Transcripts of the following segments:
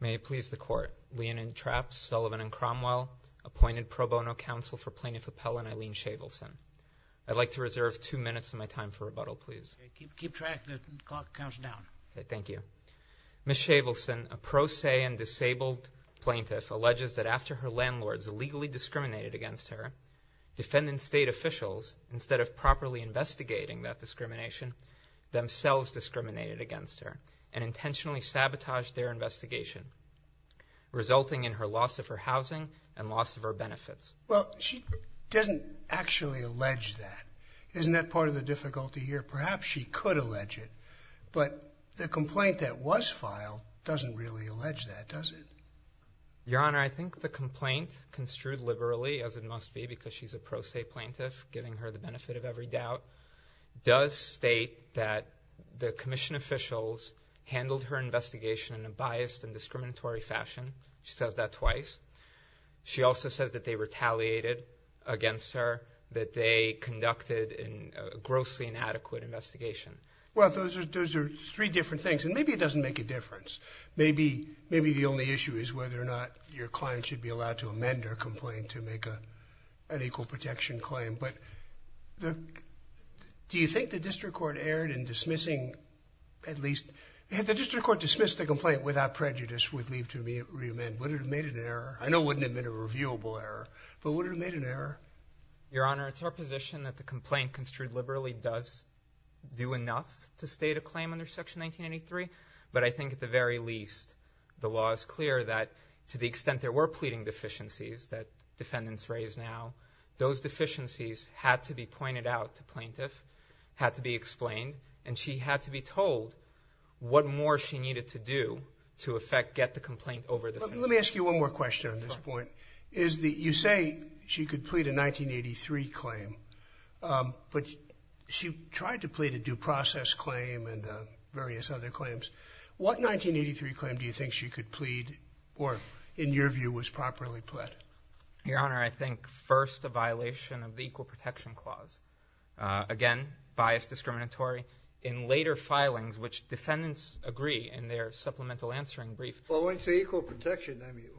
May it please the court. Leonid Trapp, Sullivan and Cromwell, appointed pro bono counsel for plaintiff appellant Eileen Shavelson. I'd like to reserve two minutes of my time for rebuttal please. Keep track the clock counts down. Thank you. Ms. Shavelson, a pro se and disabled plaintiff, alleges that after her landlords illegally discriminated against her, defendant state officials, instead of properly investigating that discrimination, themselves discriminated against her and intentionally sabotaged their investigation, resulting in her loss of her housing and loss of her benefits. Well, she doesn't actually allege that. Isn't that part of the difficulty here? Perhaps she could allege it, but the complaint that was filed doesn't really allege that, does it? Your Honor, I think the complaint construed liberally, as it must be because she's a pro se plaintiff giving her the benefit of every doubt, does state that the commission officials handled her investigation in a biased and discriminatory fashion. She says that twice. She also says that they retaliated against her, that they conducted a grossly inadequate investigation. Well, those are three different things and maybe it doesn't make a difference. Maybe the only issue is whether or not your client should be allowed to amend her complaint to make an equal protection claim, but do you think the at least, if the district court dismissed the complaint without prejudice would leave to reamend, would it have made an error? I know it wouldn't have been a reviewable error, but would it have made an error? Your Honor, it's our position that the complaint construed liberally does do enough to state a claim under Section 1983, but I think at the very least, the law is clear that to the extent there were pleading deficiencies that defendants raise now, those deficiencies had to be pointed out to plaintiff, had to be explained, and she had to be told what more she needed to do to, in effect, get the complaint over the fence. Let me ask you one more question on this point. You say she could plead a 1983 claim, but she tried to plead a due process claim and various other claims. What 1983 claim do you think she could plead or, in your view, was properly pled? Your Honor, I think first a violation of the Equal Protection Act. In later filings, which defendants agree in their supplemental answering brief... When you say Equal Protection, I mean,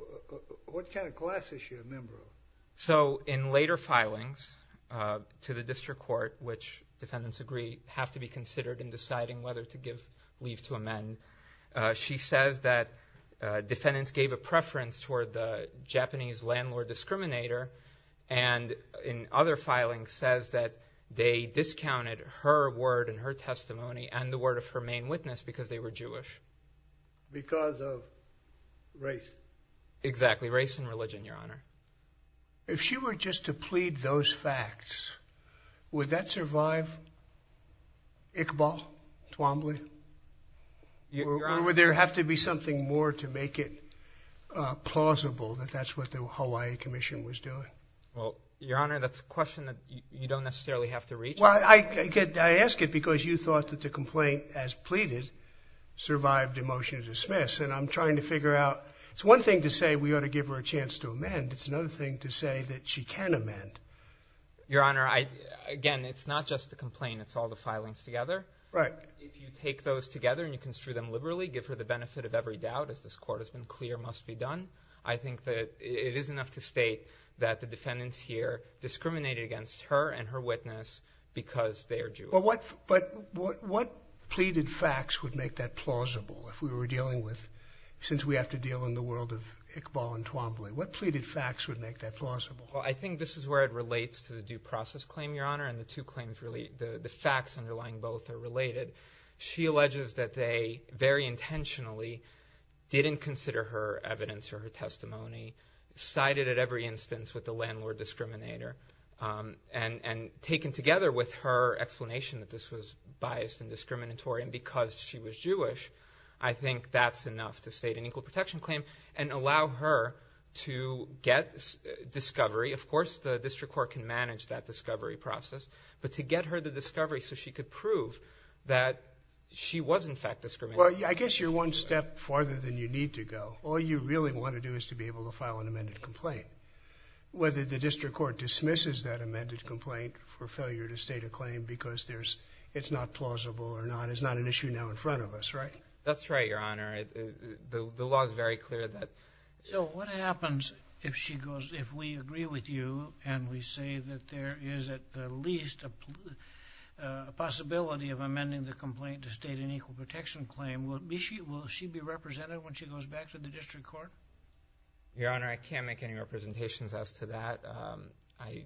what kind of class is she a member of? In later filings to the District Court, which defendants agree have to be considered in deciding whether to give leave to amend, she says that defendants gave a preference toward the Japanese landlord discriminator and in other filings says that they discounted her word and her testimony and the word of her main witness because they were Jewish. Because of race. Exactly, race and religion, Your Honor. If she were just to plead those facts, would that survive Iqbal Twombly? Your Honor... Or would there have to be something more to make it was doing? Well, Your Honor, that's a question that you don't necessarily have to reach. Well, I ask it because you thought that the complaint, as pleaded, survived a motion to dismiss and I'm trying to figure out... It's one thing to say we ought to give her a chance to amend. It's another thing to say that she can amend. Your Honor, again, it's not just the complaint. It's all the filings together. Right. If you take those together and you construe them liberally, give her the benefit of every doubt, as this Court has been clear must be done, I think that it is enough to state that the defendants here discriminated against her and her witness because they are Jewish. But what pleaded facts would make that plausible if we were dealing with... since we have to deal in the world of Iqbal and Twombly, what pleaded facts would make that plausible? Well, I think this is where it relates to the due process claim, Your Honor, and the two claims really... the facts underlying both are related. She alleges that they, very intentionally, didn't consider her evidence or her testimony, sided at every instance with the landlord discriminator, and taken together with her explanation that this was biased and discriminatory and because she was Jewish, I think that's enough to state an equal protection claim and allow her to get discovery. Of course, the District Court can manage that discovery process, but to get her the discovery so she could prove that she was, in fact, discriminatory. Well, I guess you're one step farther than you need to go. All you really want to do is to be able to file an amended complaint. Whether the District Court dismisses that amended complaint for failure to state a claim because there's... it's not plausible or not is not an issue now in front of us, right? That's right, Your Honor. The law is very clear that... So what happens if she goes... if we agree with you and we say that there is, at the least, a possibility of amending the complaint to state an equal protection claim, will she be represented when she goes back to the District Court? Your Honor, I can't make any representations as to that. I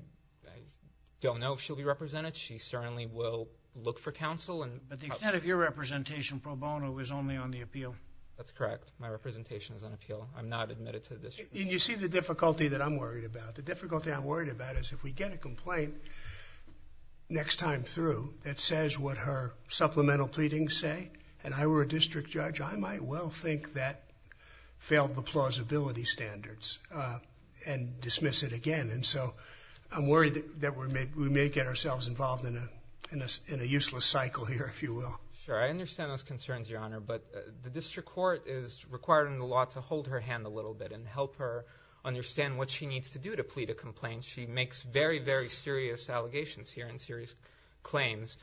don't know if she'll be represented. She certainly will look for counsel and... But the extent of your representation, pro bono, is only on the appeal. That's correct. My representation is on appeal. I'm not admitted to the District Court. And you see the difficulty that I'm worried about. The difficulty I'm worried about is if we get a complaint next time through that says what her supplemental pleadings say, and I were a district judge, I might well think that failed the plausibility standards and dismiss it again. And so I'm worried that we may get ourselves involved in a useless cycle here, if you will. Sure, I understand those concerns, Your Honor. But the District Court is requiring the law to hold her hand a little bit and help her understand what she needs to do to plead a complaint. She makes very, very serious allegations here and serious claims.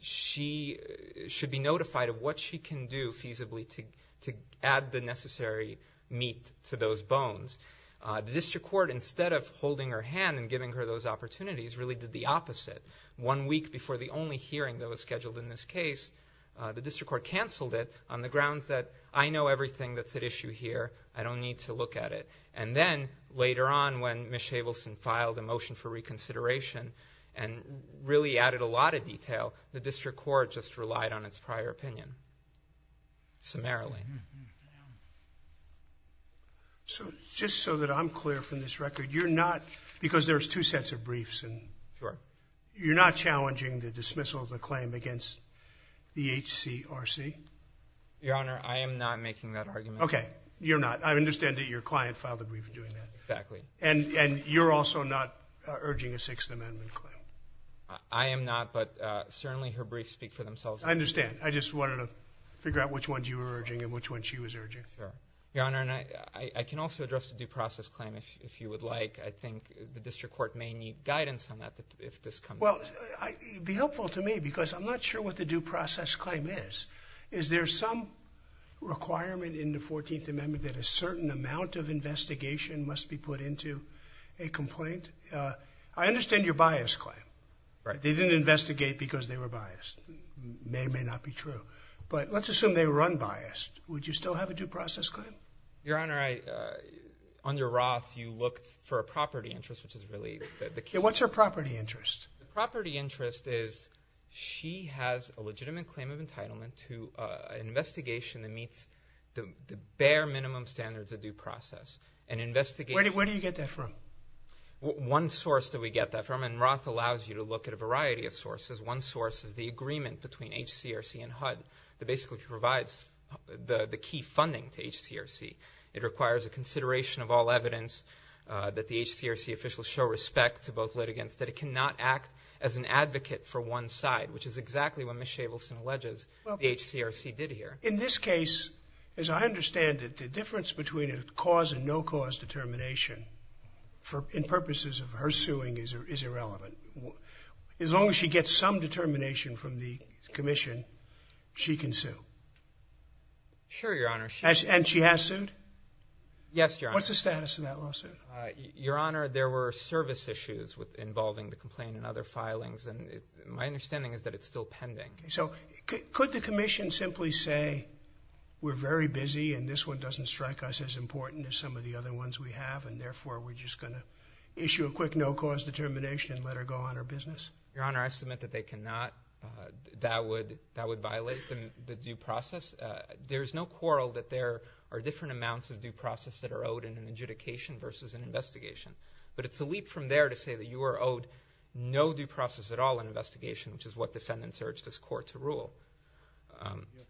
She should be notified of what she can do feasibly to add the necessary meat to those bones. The District Court, instead of holding her hand and giving her those opportunities, really did the opposite. One week before the only hearing that was scheduled in this case, the District Court canceled it on the grounds that I know everything that's at issue here. I don't need to look at it. And then, later on, when Ms. Chabelson filed a motion for consideration and really added a lot of detail, the District Court just relied on its prior opinion, summarily. So, just so that I'm clear from this record, you're not, because there's two sets of briefs, and you're not challenging the dismissal of the claim against the HCRC? Your Honor, I am not making that argument. Okay, you're not. I understand that your client filed a brief doing that. Exactly. And you're also not urging a Sixth Amendment claim? I am not, but certainly her briefs speak for themselves. I understand. I just wanted to figure out which ones you were urging and which one she was urging. Your Honor, and I can also address the due process claim, if you would like. I think the District Court may need guidance on that, if this comes up. Well, it would be helpful to me, because I'm not sure what the due process claim is. Is there some requirement in the Fourteenth Amendment that a certain amount of investigation must be put into a complaint? I understand your bias claim. Right. They didn't investigate because they were biased. It may or may not be true, but let's assume they were unbiased. Would you still have a due process claim? Your Honor, under Roth, you looked for a property interest, which is really the key. What's her property interest? The property interest is she has a legitimate claim of entitlement to an investigation that meets the bare minimum standards of due process. Where do you get that from? One source that we get that from, and Roth allows you to look at a variety of sources. One source is the agreement between HCRC and HUD that basically provides the key funding to HCRC. It requires a consideration of all evidence that the HCRC officials show respect to both litigants, that it cannot act as an advocate for one side, which is exactly what Ms. Shavelson alleges the HCRC did here. In this case, as I understand it, the difference between a cause and no cause determination in purposes of her suing is irrelevant. As long as she gets some determination from the Commission, she can sue. Sure, Your Honor. And she has sued? Yes, Your Honor. What's the status of that lawsuit? Your Honor, there were service issues involving the complaint and other filings, and my understanding is that it's still pending. So could the Commission simply say, we're very busy and this one doesn't strike us as important as some of the other ones we have, and therefore we're just going to issue a quick no-cause determination and let her go on her business? Your Honor, I submit that they cannot. That would violate the due process. There's no quarrel that there are different amounts of due process that are owed in an adjudication versus an investigation, but it's a leap from there to say that you are owed no due process at all in investigation, which is what defendants urged this court to rule.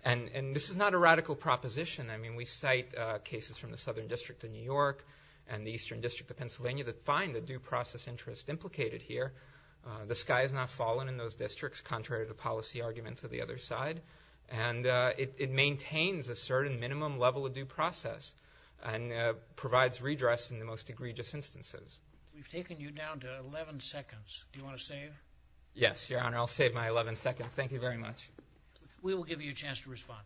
And this is not a radical proposition. I mean, we cite cases from the Southern District of New York and the Eastern District of Pennsylvania that find the due process interest implicated here. The sky has not fallen in those districts, contrary to policy arguments of the other side, and it maintains a certain minimum level of due process and provides redress in the most egregious instances. We've taken you down to 11 seconds. Do you want to save? Yes, Your Honor, I'll save my 11 seconds. Thank you very much. We will give you a chance to respond.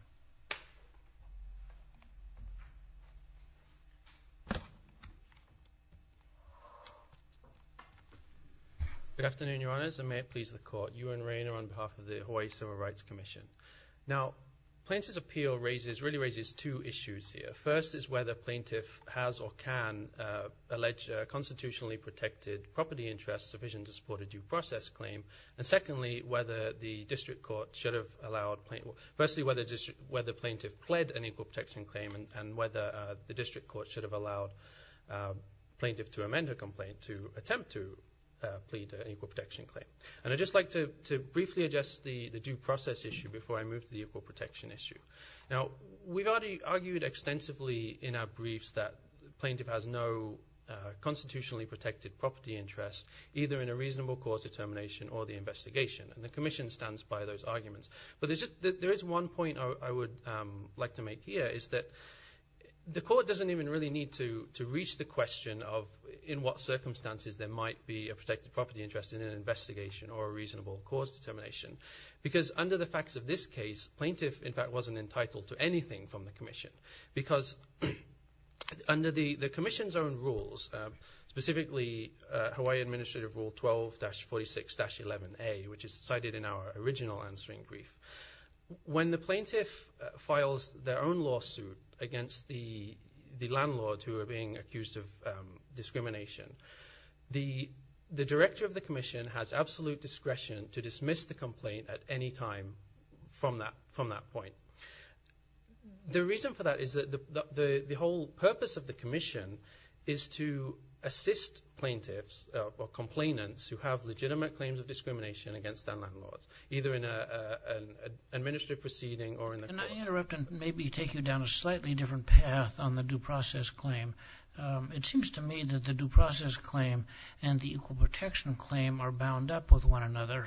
Good afternoon, Your Honors, and may it please the Court. Ewan Rayner on behalf of the Hawaii Civil Rights Commission. Now, plaintiff's appeal raises, really raises, two issues here. First is whether plaintiff has or can allege constitutionally protected property interests sufficient to support a due process claim. And secondly, whether the District Court should have allowed plaintiff... Firstly, whether plaintiff pled an equal protection claim and whether the District Court should have allowed plaintiff to amend her complaint to attempt to plead an equal protection claim. And I'd just like to briefly address the due process issue before I move to the equal protection issue. Now, we've already argued extensively in our briefs that plaintiff has no constitutionally protected property interest, either in a reasonable cause determination or the investigation, and the Commission stands by those arguments. But there's just... There is one point I would like to make here, is that the Court doesn't even really need to reach the question of in what circumstances there might be a protected property interest in an investigation or a reasonable cause determination. Because under the facts of this case, plaintiff, in fact, wasn't entitled to anything from the Commission. Because under the Commission's own rules, specifically Hawaii Administrative Rule 12-46-11A, which is cited in our original answering brief, when the plaintiff files their own lawsuit against the landlord who are being accused of discrimination, the Director of the Commission has absolute discretion to dismiss the complaint at any time from that point. The reason for that is that the whole purpose of the Commission is to assist plaintiffs or complainants who have legitimate claims of discrimination against their landlords, either in an administrative proceeding or in the... Can I interrupt and maybe take you down a slightly different path on the due process claim? It seems to me that the due process claim and the Equal Protection Claim are bound up with one another.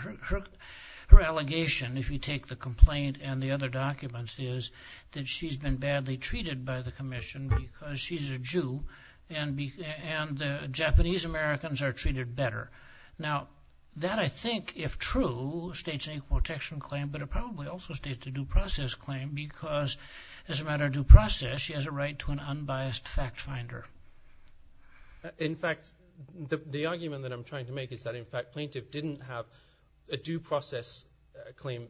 Her allegation, if you take the complaint and the other documents, is that she's been badly treated by the Commission because she's a Jew and the Japanese-Americans are treated better. Now, that I think, if true, states an Equal Protection Claim, but it probably also states a due process claim because as a matter of due process, she has a right to an unbiased fact finder. In fact, the argument that I'm trying to make is that, in fact, plaintiff didn't have a due process claim,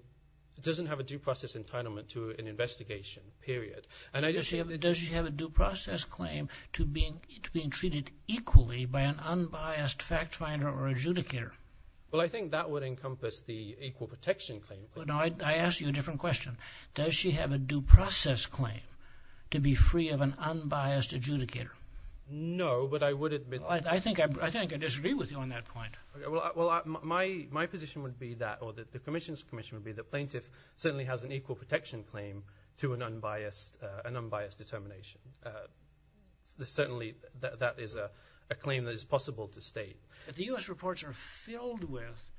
doesn't have a due process entitlement to an investigation, period. And I just... Does she have a due process claim to being treated equally by an unbiased fact finder or adjudicator? Well, I think that would encompass the Equal Protection Claim. I ask you a different question. Does she have a due process claim to be free of an unbiased adjudicator? No, but I would admit... I think I disagree with you on that point. Well, my position would be that, or the Commission's position would be, the plaintiff certainly has an Equal Protection Claim to an unbiased determination. Certainly, that is a claim that is possible to state. The U.S. reports are filled with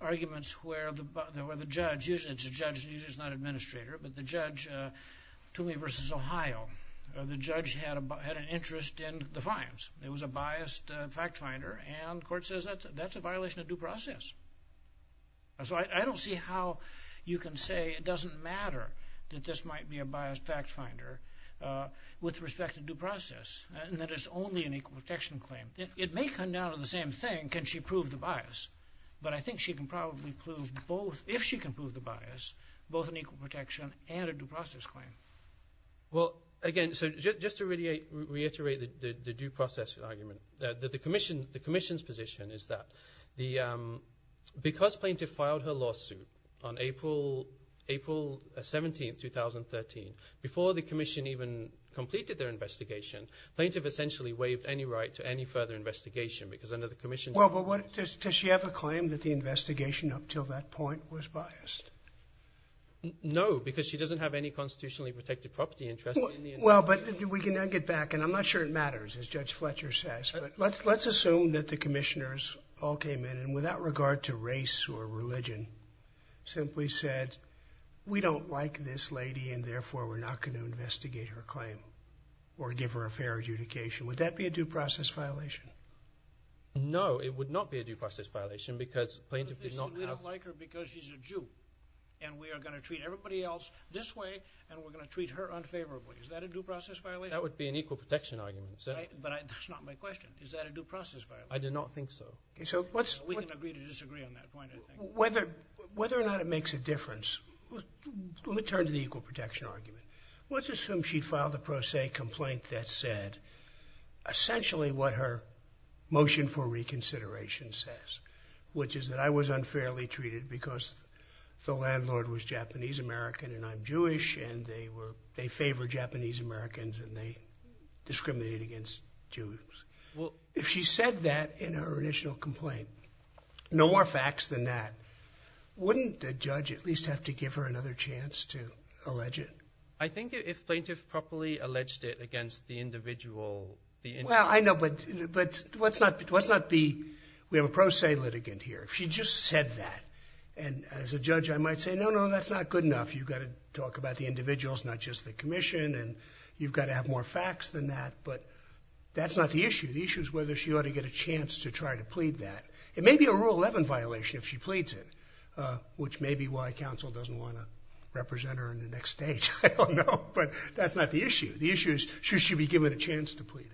arguments where the judge, usually it's a judge, usually it's not an administrator, but the judge, Tomey v. Ohio, the judge had an interest in the fines. It was a biased fact finder, and court says that's a violation of due process. So I don't see how you can say it doesn't matter that this might be a biased fact finder with respect to due process, and that it's only an Equal Protection Claim. It may come down to the same thing, can she prove the bias? But I think she can probably prove both, if she can prove the bias, both an Equal Protection and a due process claim. Well, again, so just to reiterate the due process argument, the Commission's position is that, because plaintiff filed her lawsuit on April 17th, 2013, before the Commission even completed their investigation, plaintiff essentially waived any right to any further investigation, because under the Commission... Well, but does she have a claim that the investigation up till that point was biased? No, because she doesn't have any constitutionally protected property interests. Well, but we can then get back, and I'm not sure it matters, as Judge Fletcher says, but let's assume that the Commissioners all came in, and without regard to race or religion, simply said, we don't like this lady, and therefore we're not going to investigate her claim, or give her a fair adjudication. Would that be a due process violation? No, it would not be a due process violation, because plaintiff did not have... And we are going to treat everybody else this way, and we're going to treat her unfavorably. Is that a due process violation? That would be an equal protection argument, sir. Right, but that's not my question. Is that a due process violation? I do not think so. Okay, so what's... We can agree to disagree on that point, I think. Whether or not it makes a difference, let me turn to the equal protection argument. Let's assume she'd filed a pro se complaint that said, essentially, what her motion for reconsideration says, which is that I was unfairly treated because the landlord was Japanese-American, and I'm Jewish, and they favor Japanese-Americans, and they discriminate against Jews. Well, if she said that in her initial complaint, no more facts than that, wouldn't the judge at least have to give her another chance to allege it? I think if plaintiff properly alleged it against the individual... Well, I know, but let's not be... We have a pro se litigant here. If she just said that, and as a judge I might say, no, no, that's not good enough. You've got to talk about the individuals, not just the Commission, and you've got to have more facts than that, but that's not the issue. The issue is whether she ought to get a chance to try to plead that. It may be a Rule 11 violation if she pleads it, which may be why Council doesn't want to represent her in the next stage. I don't know, but that's not the issue. The issue is, should she be given a chance to plead it?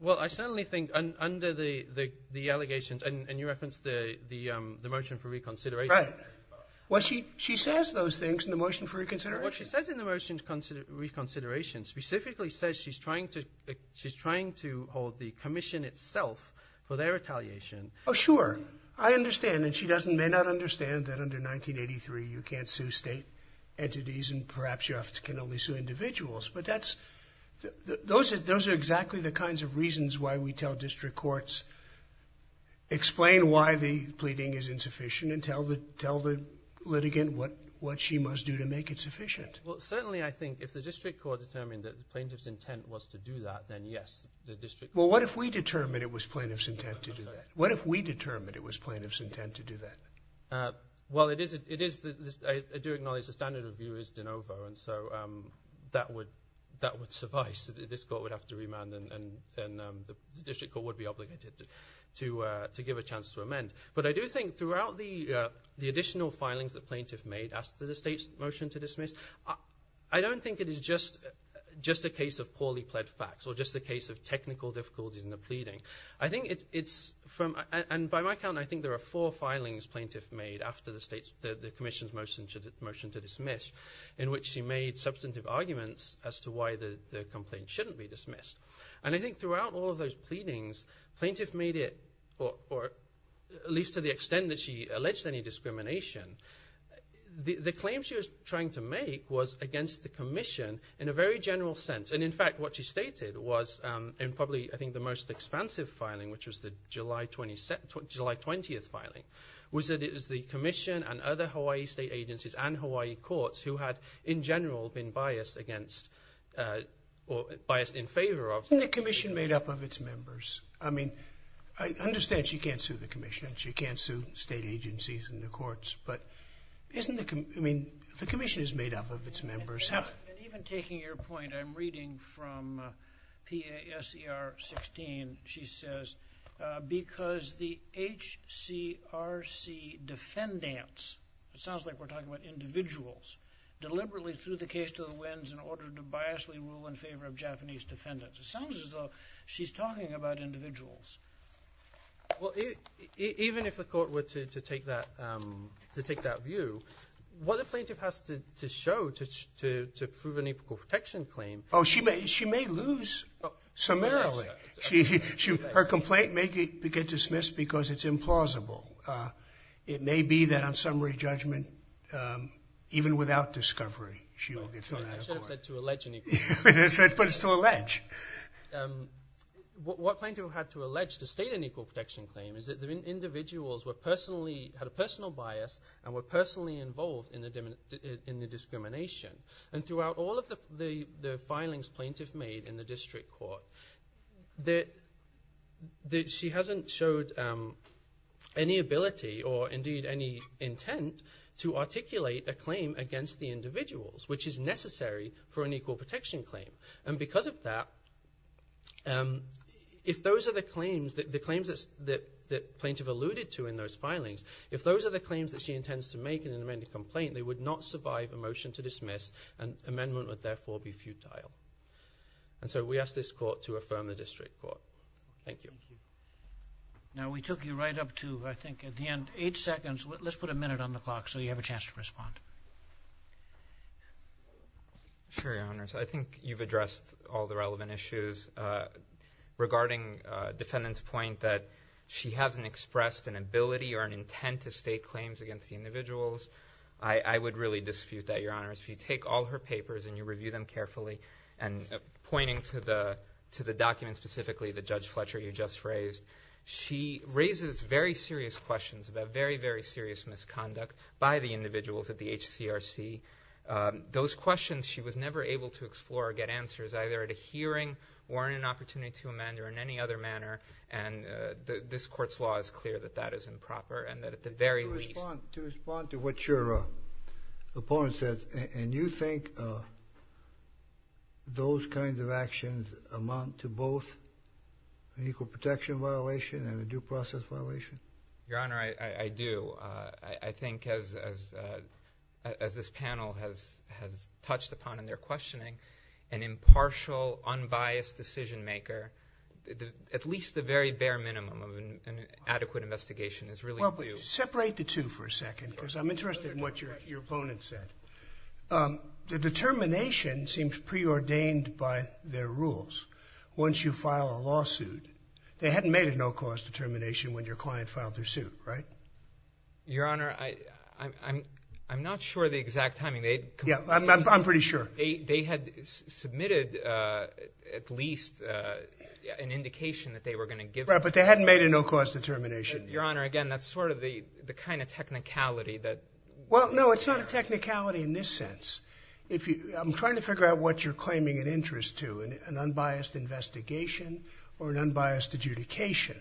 Well, I certainly think under the allegations, and you referenced the motion for reconsideration... Right. Well, she says those things in the motion for reconsideration. What she says in the motion for reconsideration specifically says she's trying to hold the Commission itself for their retaliation. Oh, sure. I understand, and she doesn't, may not understand that under 1983 you can't sue state entities, and perhaps you can only sue individuals, but those are exactly the kinds of things. Explain why the pleading is insufficient and tell the litigant what she must do to make it sufficient. Well, certainly, I think if the District Court determined that the plaintiff's intent was to do that, then yes, the District... Well, what if we determined it was plaintiff's intent to do that? What if we determined it was plaintiff's intent to do that? Well, it is the... I do acknowledge the standard of view is de novo, and so that would suffice. This Court would have to remand, and the District Court would be obligated to give a chance to amend, but I do think throughout the additional filings the plaintiff made after the state's motion to dismiss, I don't think it is just a case of poorly pled facts or just a case of technical difficulties in the pleading. I think it's from... and by my count, I think there are four filings plaintiff made after the state's... the Commission's motion to dismiss, in which she made substantive arguments as to why the complaint shouldn't be dismissed, and I think throughout all of those pleadings, plaintiff made it, or at least to the extent that she alleged any discrimination, the claim she was trying to make was against the Commission in a very general sense, and in fact, what she stated was in probably, I think, the most expansive filing, which was the July 20th filing, was that it was the Commission and other Hawaii state agencies and Hawaii courts who had, in general, been biased against or biased in favor of... Isn't the Commission made up of its members? I mean, I understand she can't sue the Commission and she can't sue state agencies and the courts, but isn't the... I mean, the Commission is made up of its members. Even taking your point, I'm reading from PASER 16, she says, because the HCRC defendants, it sounds like we're talking about individuals, deliberately threw the case to the winds in order to biasly rule in favor of Japanese defendants. It sounds as though she's talking about individuals. Well, even if the court were to take that view, what the plaintiff has to show to prove an apical protection claim... Oh, she may lose summarily. Her complaint may get dismissed because it's implausible. It may be that on summary judgment, even without discovery, she will still have a claim. I should have said to allege an equal protection claim. But it's to allege. What plaintiff had to allege to state an equal protection claim is that the individuals were personally, had a personal bias and were personally involved in the discrimination. And throughout all of the filings plaintiff made in the district court, she hasn't showed any ability or indeed any intent to articulate a claim against the individuals, which is necessary for an equal protection claim. And because of that, if those are the claims that the plaintiff alluded to in those filings, if those are the claims that she intends to make in an amended complaint, they would not survive a motion to dismiss and amendment would therefore be futile. And so we ask this court to affirm the district court. Thank you. Now we took you right up to, I think at the end, eight seconds. Let's put a minute on the clock so you have a chance to respond. Sure, Your Honors. I think you've addressed all the relevant issues regarding defendant's point that she hasn't expressed an ability or an intent to state claims against the individuals. I would really dispute that, Your Honors. If you take all her papers and you review them carefully and pointing to the document specifically, the Judge Fletcher you just raised, she raises very serious questions about very, very serious misconduct by the individuals at the HCRC. Those questions she was never able to explore or get answers either at a hearing or in an opportunity to amend or in any other manner. And this court's law is clear that that is improper and that at the very least... To respond to what your opponent said, and you think those kinds of actions amount to both an equal protection violation and a due process violation? Your Honor, I do. I think as this panel has touched upon in their questioning, an impartial, unbiased decision-maker, at least the very bare minimum of an adequate investigation is really... Separate the two for a second because I'm interested in what your opponent said. The determination seems preordained by their rules. Once you file a lawsuit, they hadn't made a no-cause determination when your client filed their suit, right? Your Honor, I'm not sure the exact timing. Yeah, I'm pretty sure. They had submitted at least an indication that they were going to give... Right, but they hadn't made a no-cause determination. Your Honor, again, that's sort of the kind of technicality that... Well, no, it's not a technicality in this sense. I'm trying to figure out what you're claiming an interest to, an unbiased investigation or an unbiased adjudication,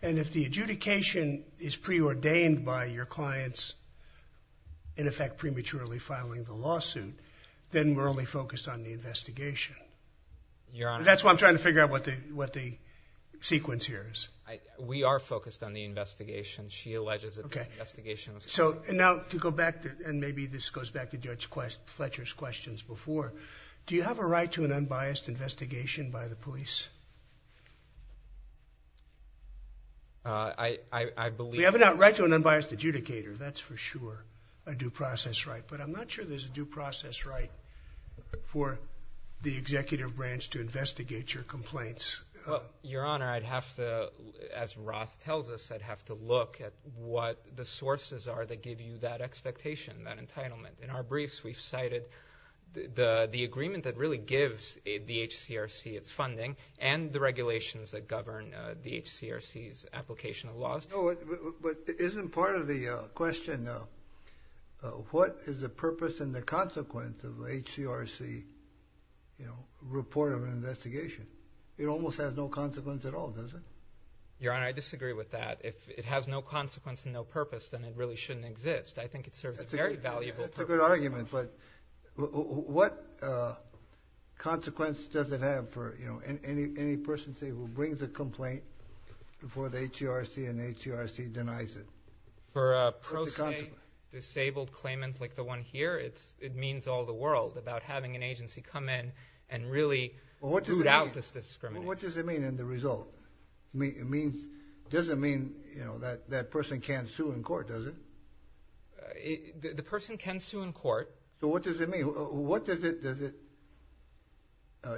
and if the adjudication is preordained by your clients, in effect, prematurely filing the lawsuit, then we're only focused on the investigation. Your Honor... That's why I'm trying to figure out what the sequence here is. We are focused on the investigation. She alleges that the investigation... Okay, so now to go back to, and maybe this goes back to Judge Fletcher's questions before, do you have a right to an unbiased investigation by the police? I believe... You have a right to an unbiased adjudicator. That's for sure a due process right, but I'm not sure there's a due process right for the executive branch to investigate your complaints. Your Honor, I'd have to, as Roth tells us, I'd have to look at what the sources are that give you that expectation, that really gives the HCRC its funding, and the regulations that govern the HCRC's application of laws. But isn't part of the question, what is the purpose and the consequence of the HCRC, you know, report of an investigation? It almost has no consequence at all, does it? Your Honor, I disagree with that. If it has no consequence and no purpose, then it really shouldn't exist. I think it has no consequence. Consequence does it have for, you know, any person, say, who brings a complaint before the HCRC and the HCRC denies it? For a pro se, disabled claimant like the one here, it means all the world about having an agency come in and really do doubtless discrimination. What does it mean in the result? It means, doesn't mean, you know, that that person can't sue in court, does it? The person can sue in court. So what does it mean? What does it, does it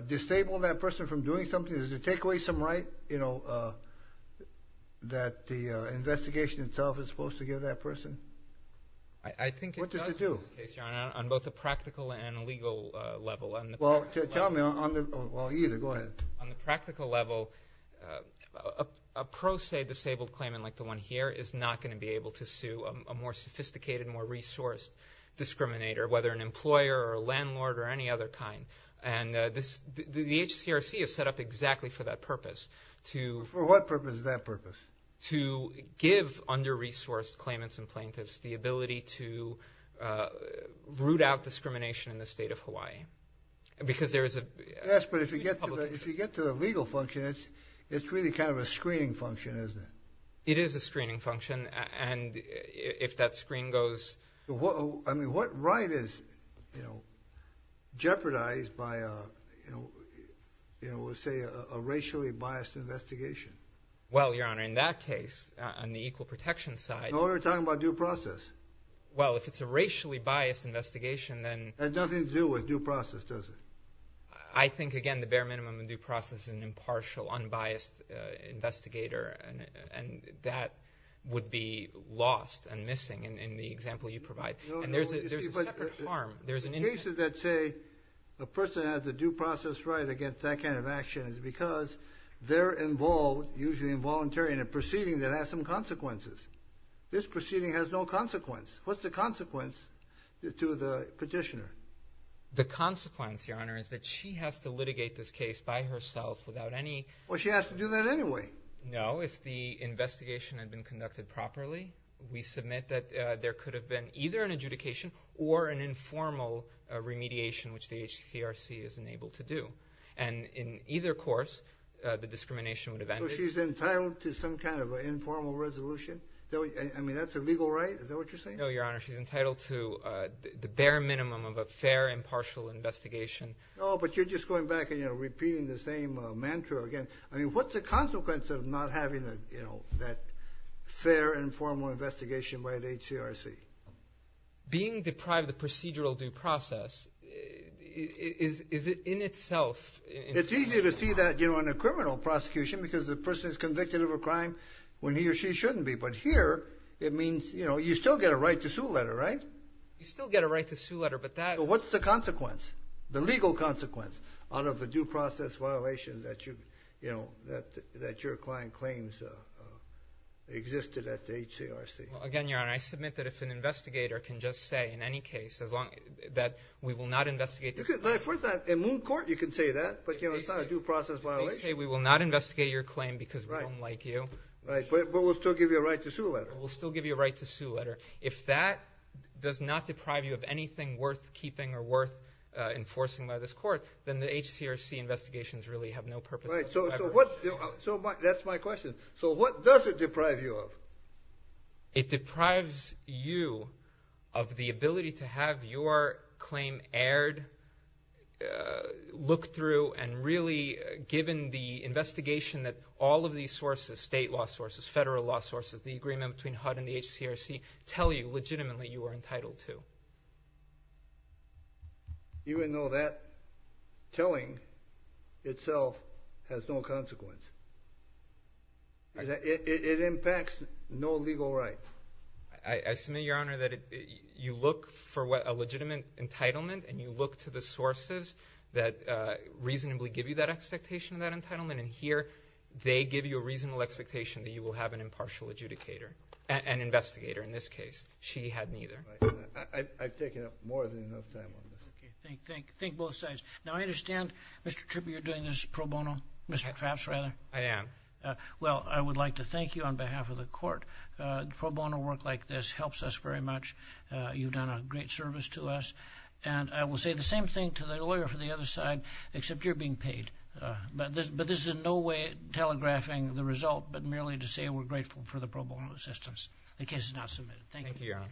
disable that person from doing something? Does it take away some right, you know, that the investigation itself is supposed to give that person? I think it does, Your Honor, on both a practical and a legal level. Well, tell me on the, well, either, go ahead. On the practical level, a pro se disabled claimant like the one here is not going to be able to sue a more sophisticated, more resourced discriminator, whether an employer or a landlord or any other kind. And this, the HCRC is set up exactly for that purpose, to... For what purpose is that purpose? To give under-resourced claimants and plaintiffs the ability to root out discrimination in the state of Hawaii. Because there is a... Yes, but if you get to the, if you get to the legal function, it's, it's really kind of a screening function, isn't it? It is a screening function, and if that screen goes... What, I mean, what right is, you know, jeopardized by a, you know, you know, let's say a racially biased investigation? Well, Your Honor, in that case, on the equal protection side... No, we're talking about due process. Well, if it's a racially biased investigation, then... It has nothing to do with due process, does it? I think, again, the bare minimum of due process is an would be lost and missing in the example you provide. And there's a, there's a separate harm. There's an... The cases that say a person has a due process right against that kind of action is because they're involved, usually involuntary, in a proceeding that has some consequences. This proceeding has no consequence. What's the consequence to the petitioner? The consequence, Your Honor, is that she has to litigate this case by herself without any... Well, she has to do that anyway. No, if the investigation had been conducted properly, we submit that there could have been either an adjudication or an informal remediation, which the HTCRC is unable to do. And in either course, the discrimination would have ended. So she's entitled to some kind of an informal resolution? I mean, that's a legal right? Is that what you're saying? No, Your Honor, she's entitled to the bare minimum of a fair and partial investigation. Oh, but you're just going back and, you know, that fair and formal investigation by the HTRC. Being deprived of the procedural due process, is it in itself... It's easy to see that, you know, in a criminal prosecution because the person is convicted of a crime when he or she shouldn't be. But here, it means, you know, you still get a right to sue letter, right? You still get a right to sue letter, but that... What's the consequence? The legal consequence out of the due process violation that you, you know, that your client claims existed at the HTRC. Again, Your Honor, I submit that if an investigator can just say, in any case, as long as... that we will not investigate this... For instance, in Moon Court, you can say that, but, you know, it's not a due process violation. They say we will not investigate your claim because we don't like you. Right, but we'll still give you a right to sue letter. We'll still give you a right to sue letter. If that does not deprive you of anything worth keeping or worth enforcing by this court, then the HTRC investigations really have no purpose whatsoever. Right, so what... so my... that's my question. So what does it deprive you of? It deprives you of the ability to have your claim aired, looked through, and really given the investigation that all of these sources, state law sources, federal law sources, the agreement between HUD and the HTRC, tell you legitimately you are entitled to. Even though that telling itself has no consequence. It impacts no legal right. I submit, Your Honor, that you look for what a legitimate entitlement, and you look to the sources that reasonably give you that expectation of that entitlement, and here they give you a reasonable expectation that you will have an impartial adjudicator, an investigator in this case. I've taken up more than enough time on this. Okay, thank you. Thank both sides. Now, I understand, Mr. Trippe, you're doing this pro bono? Mr. Trapps, rather? I am. Well, I would like to thank you on behalf of the court. Pro bono work like this helps us very much. You've done a great service to us, and I will say the same thing to the lawyer for the other side, except you're being paid. But this is in no way telegraphing the result, but merely to say we're grateful for the pro bono assistance. The case is now submitted. Thank you, Your Honor.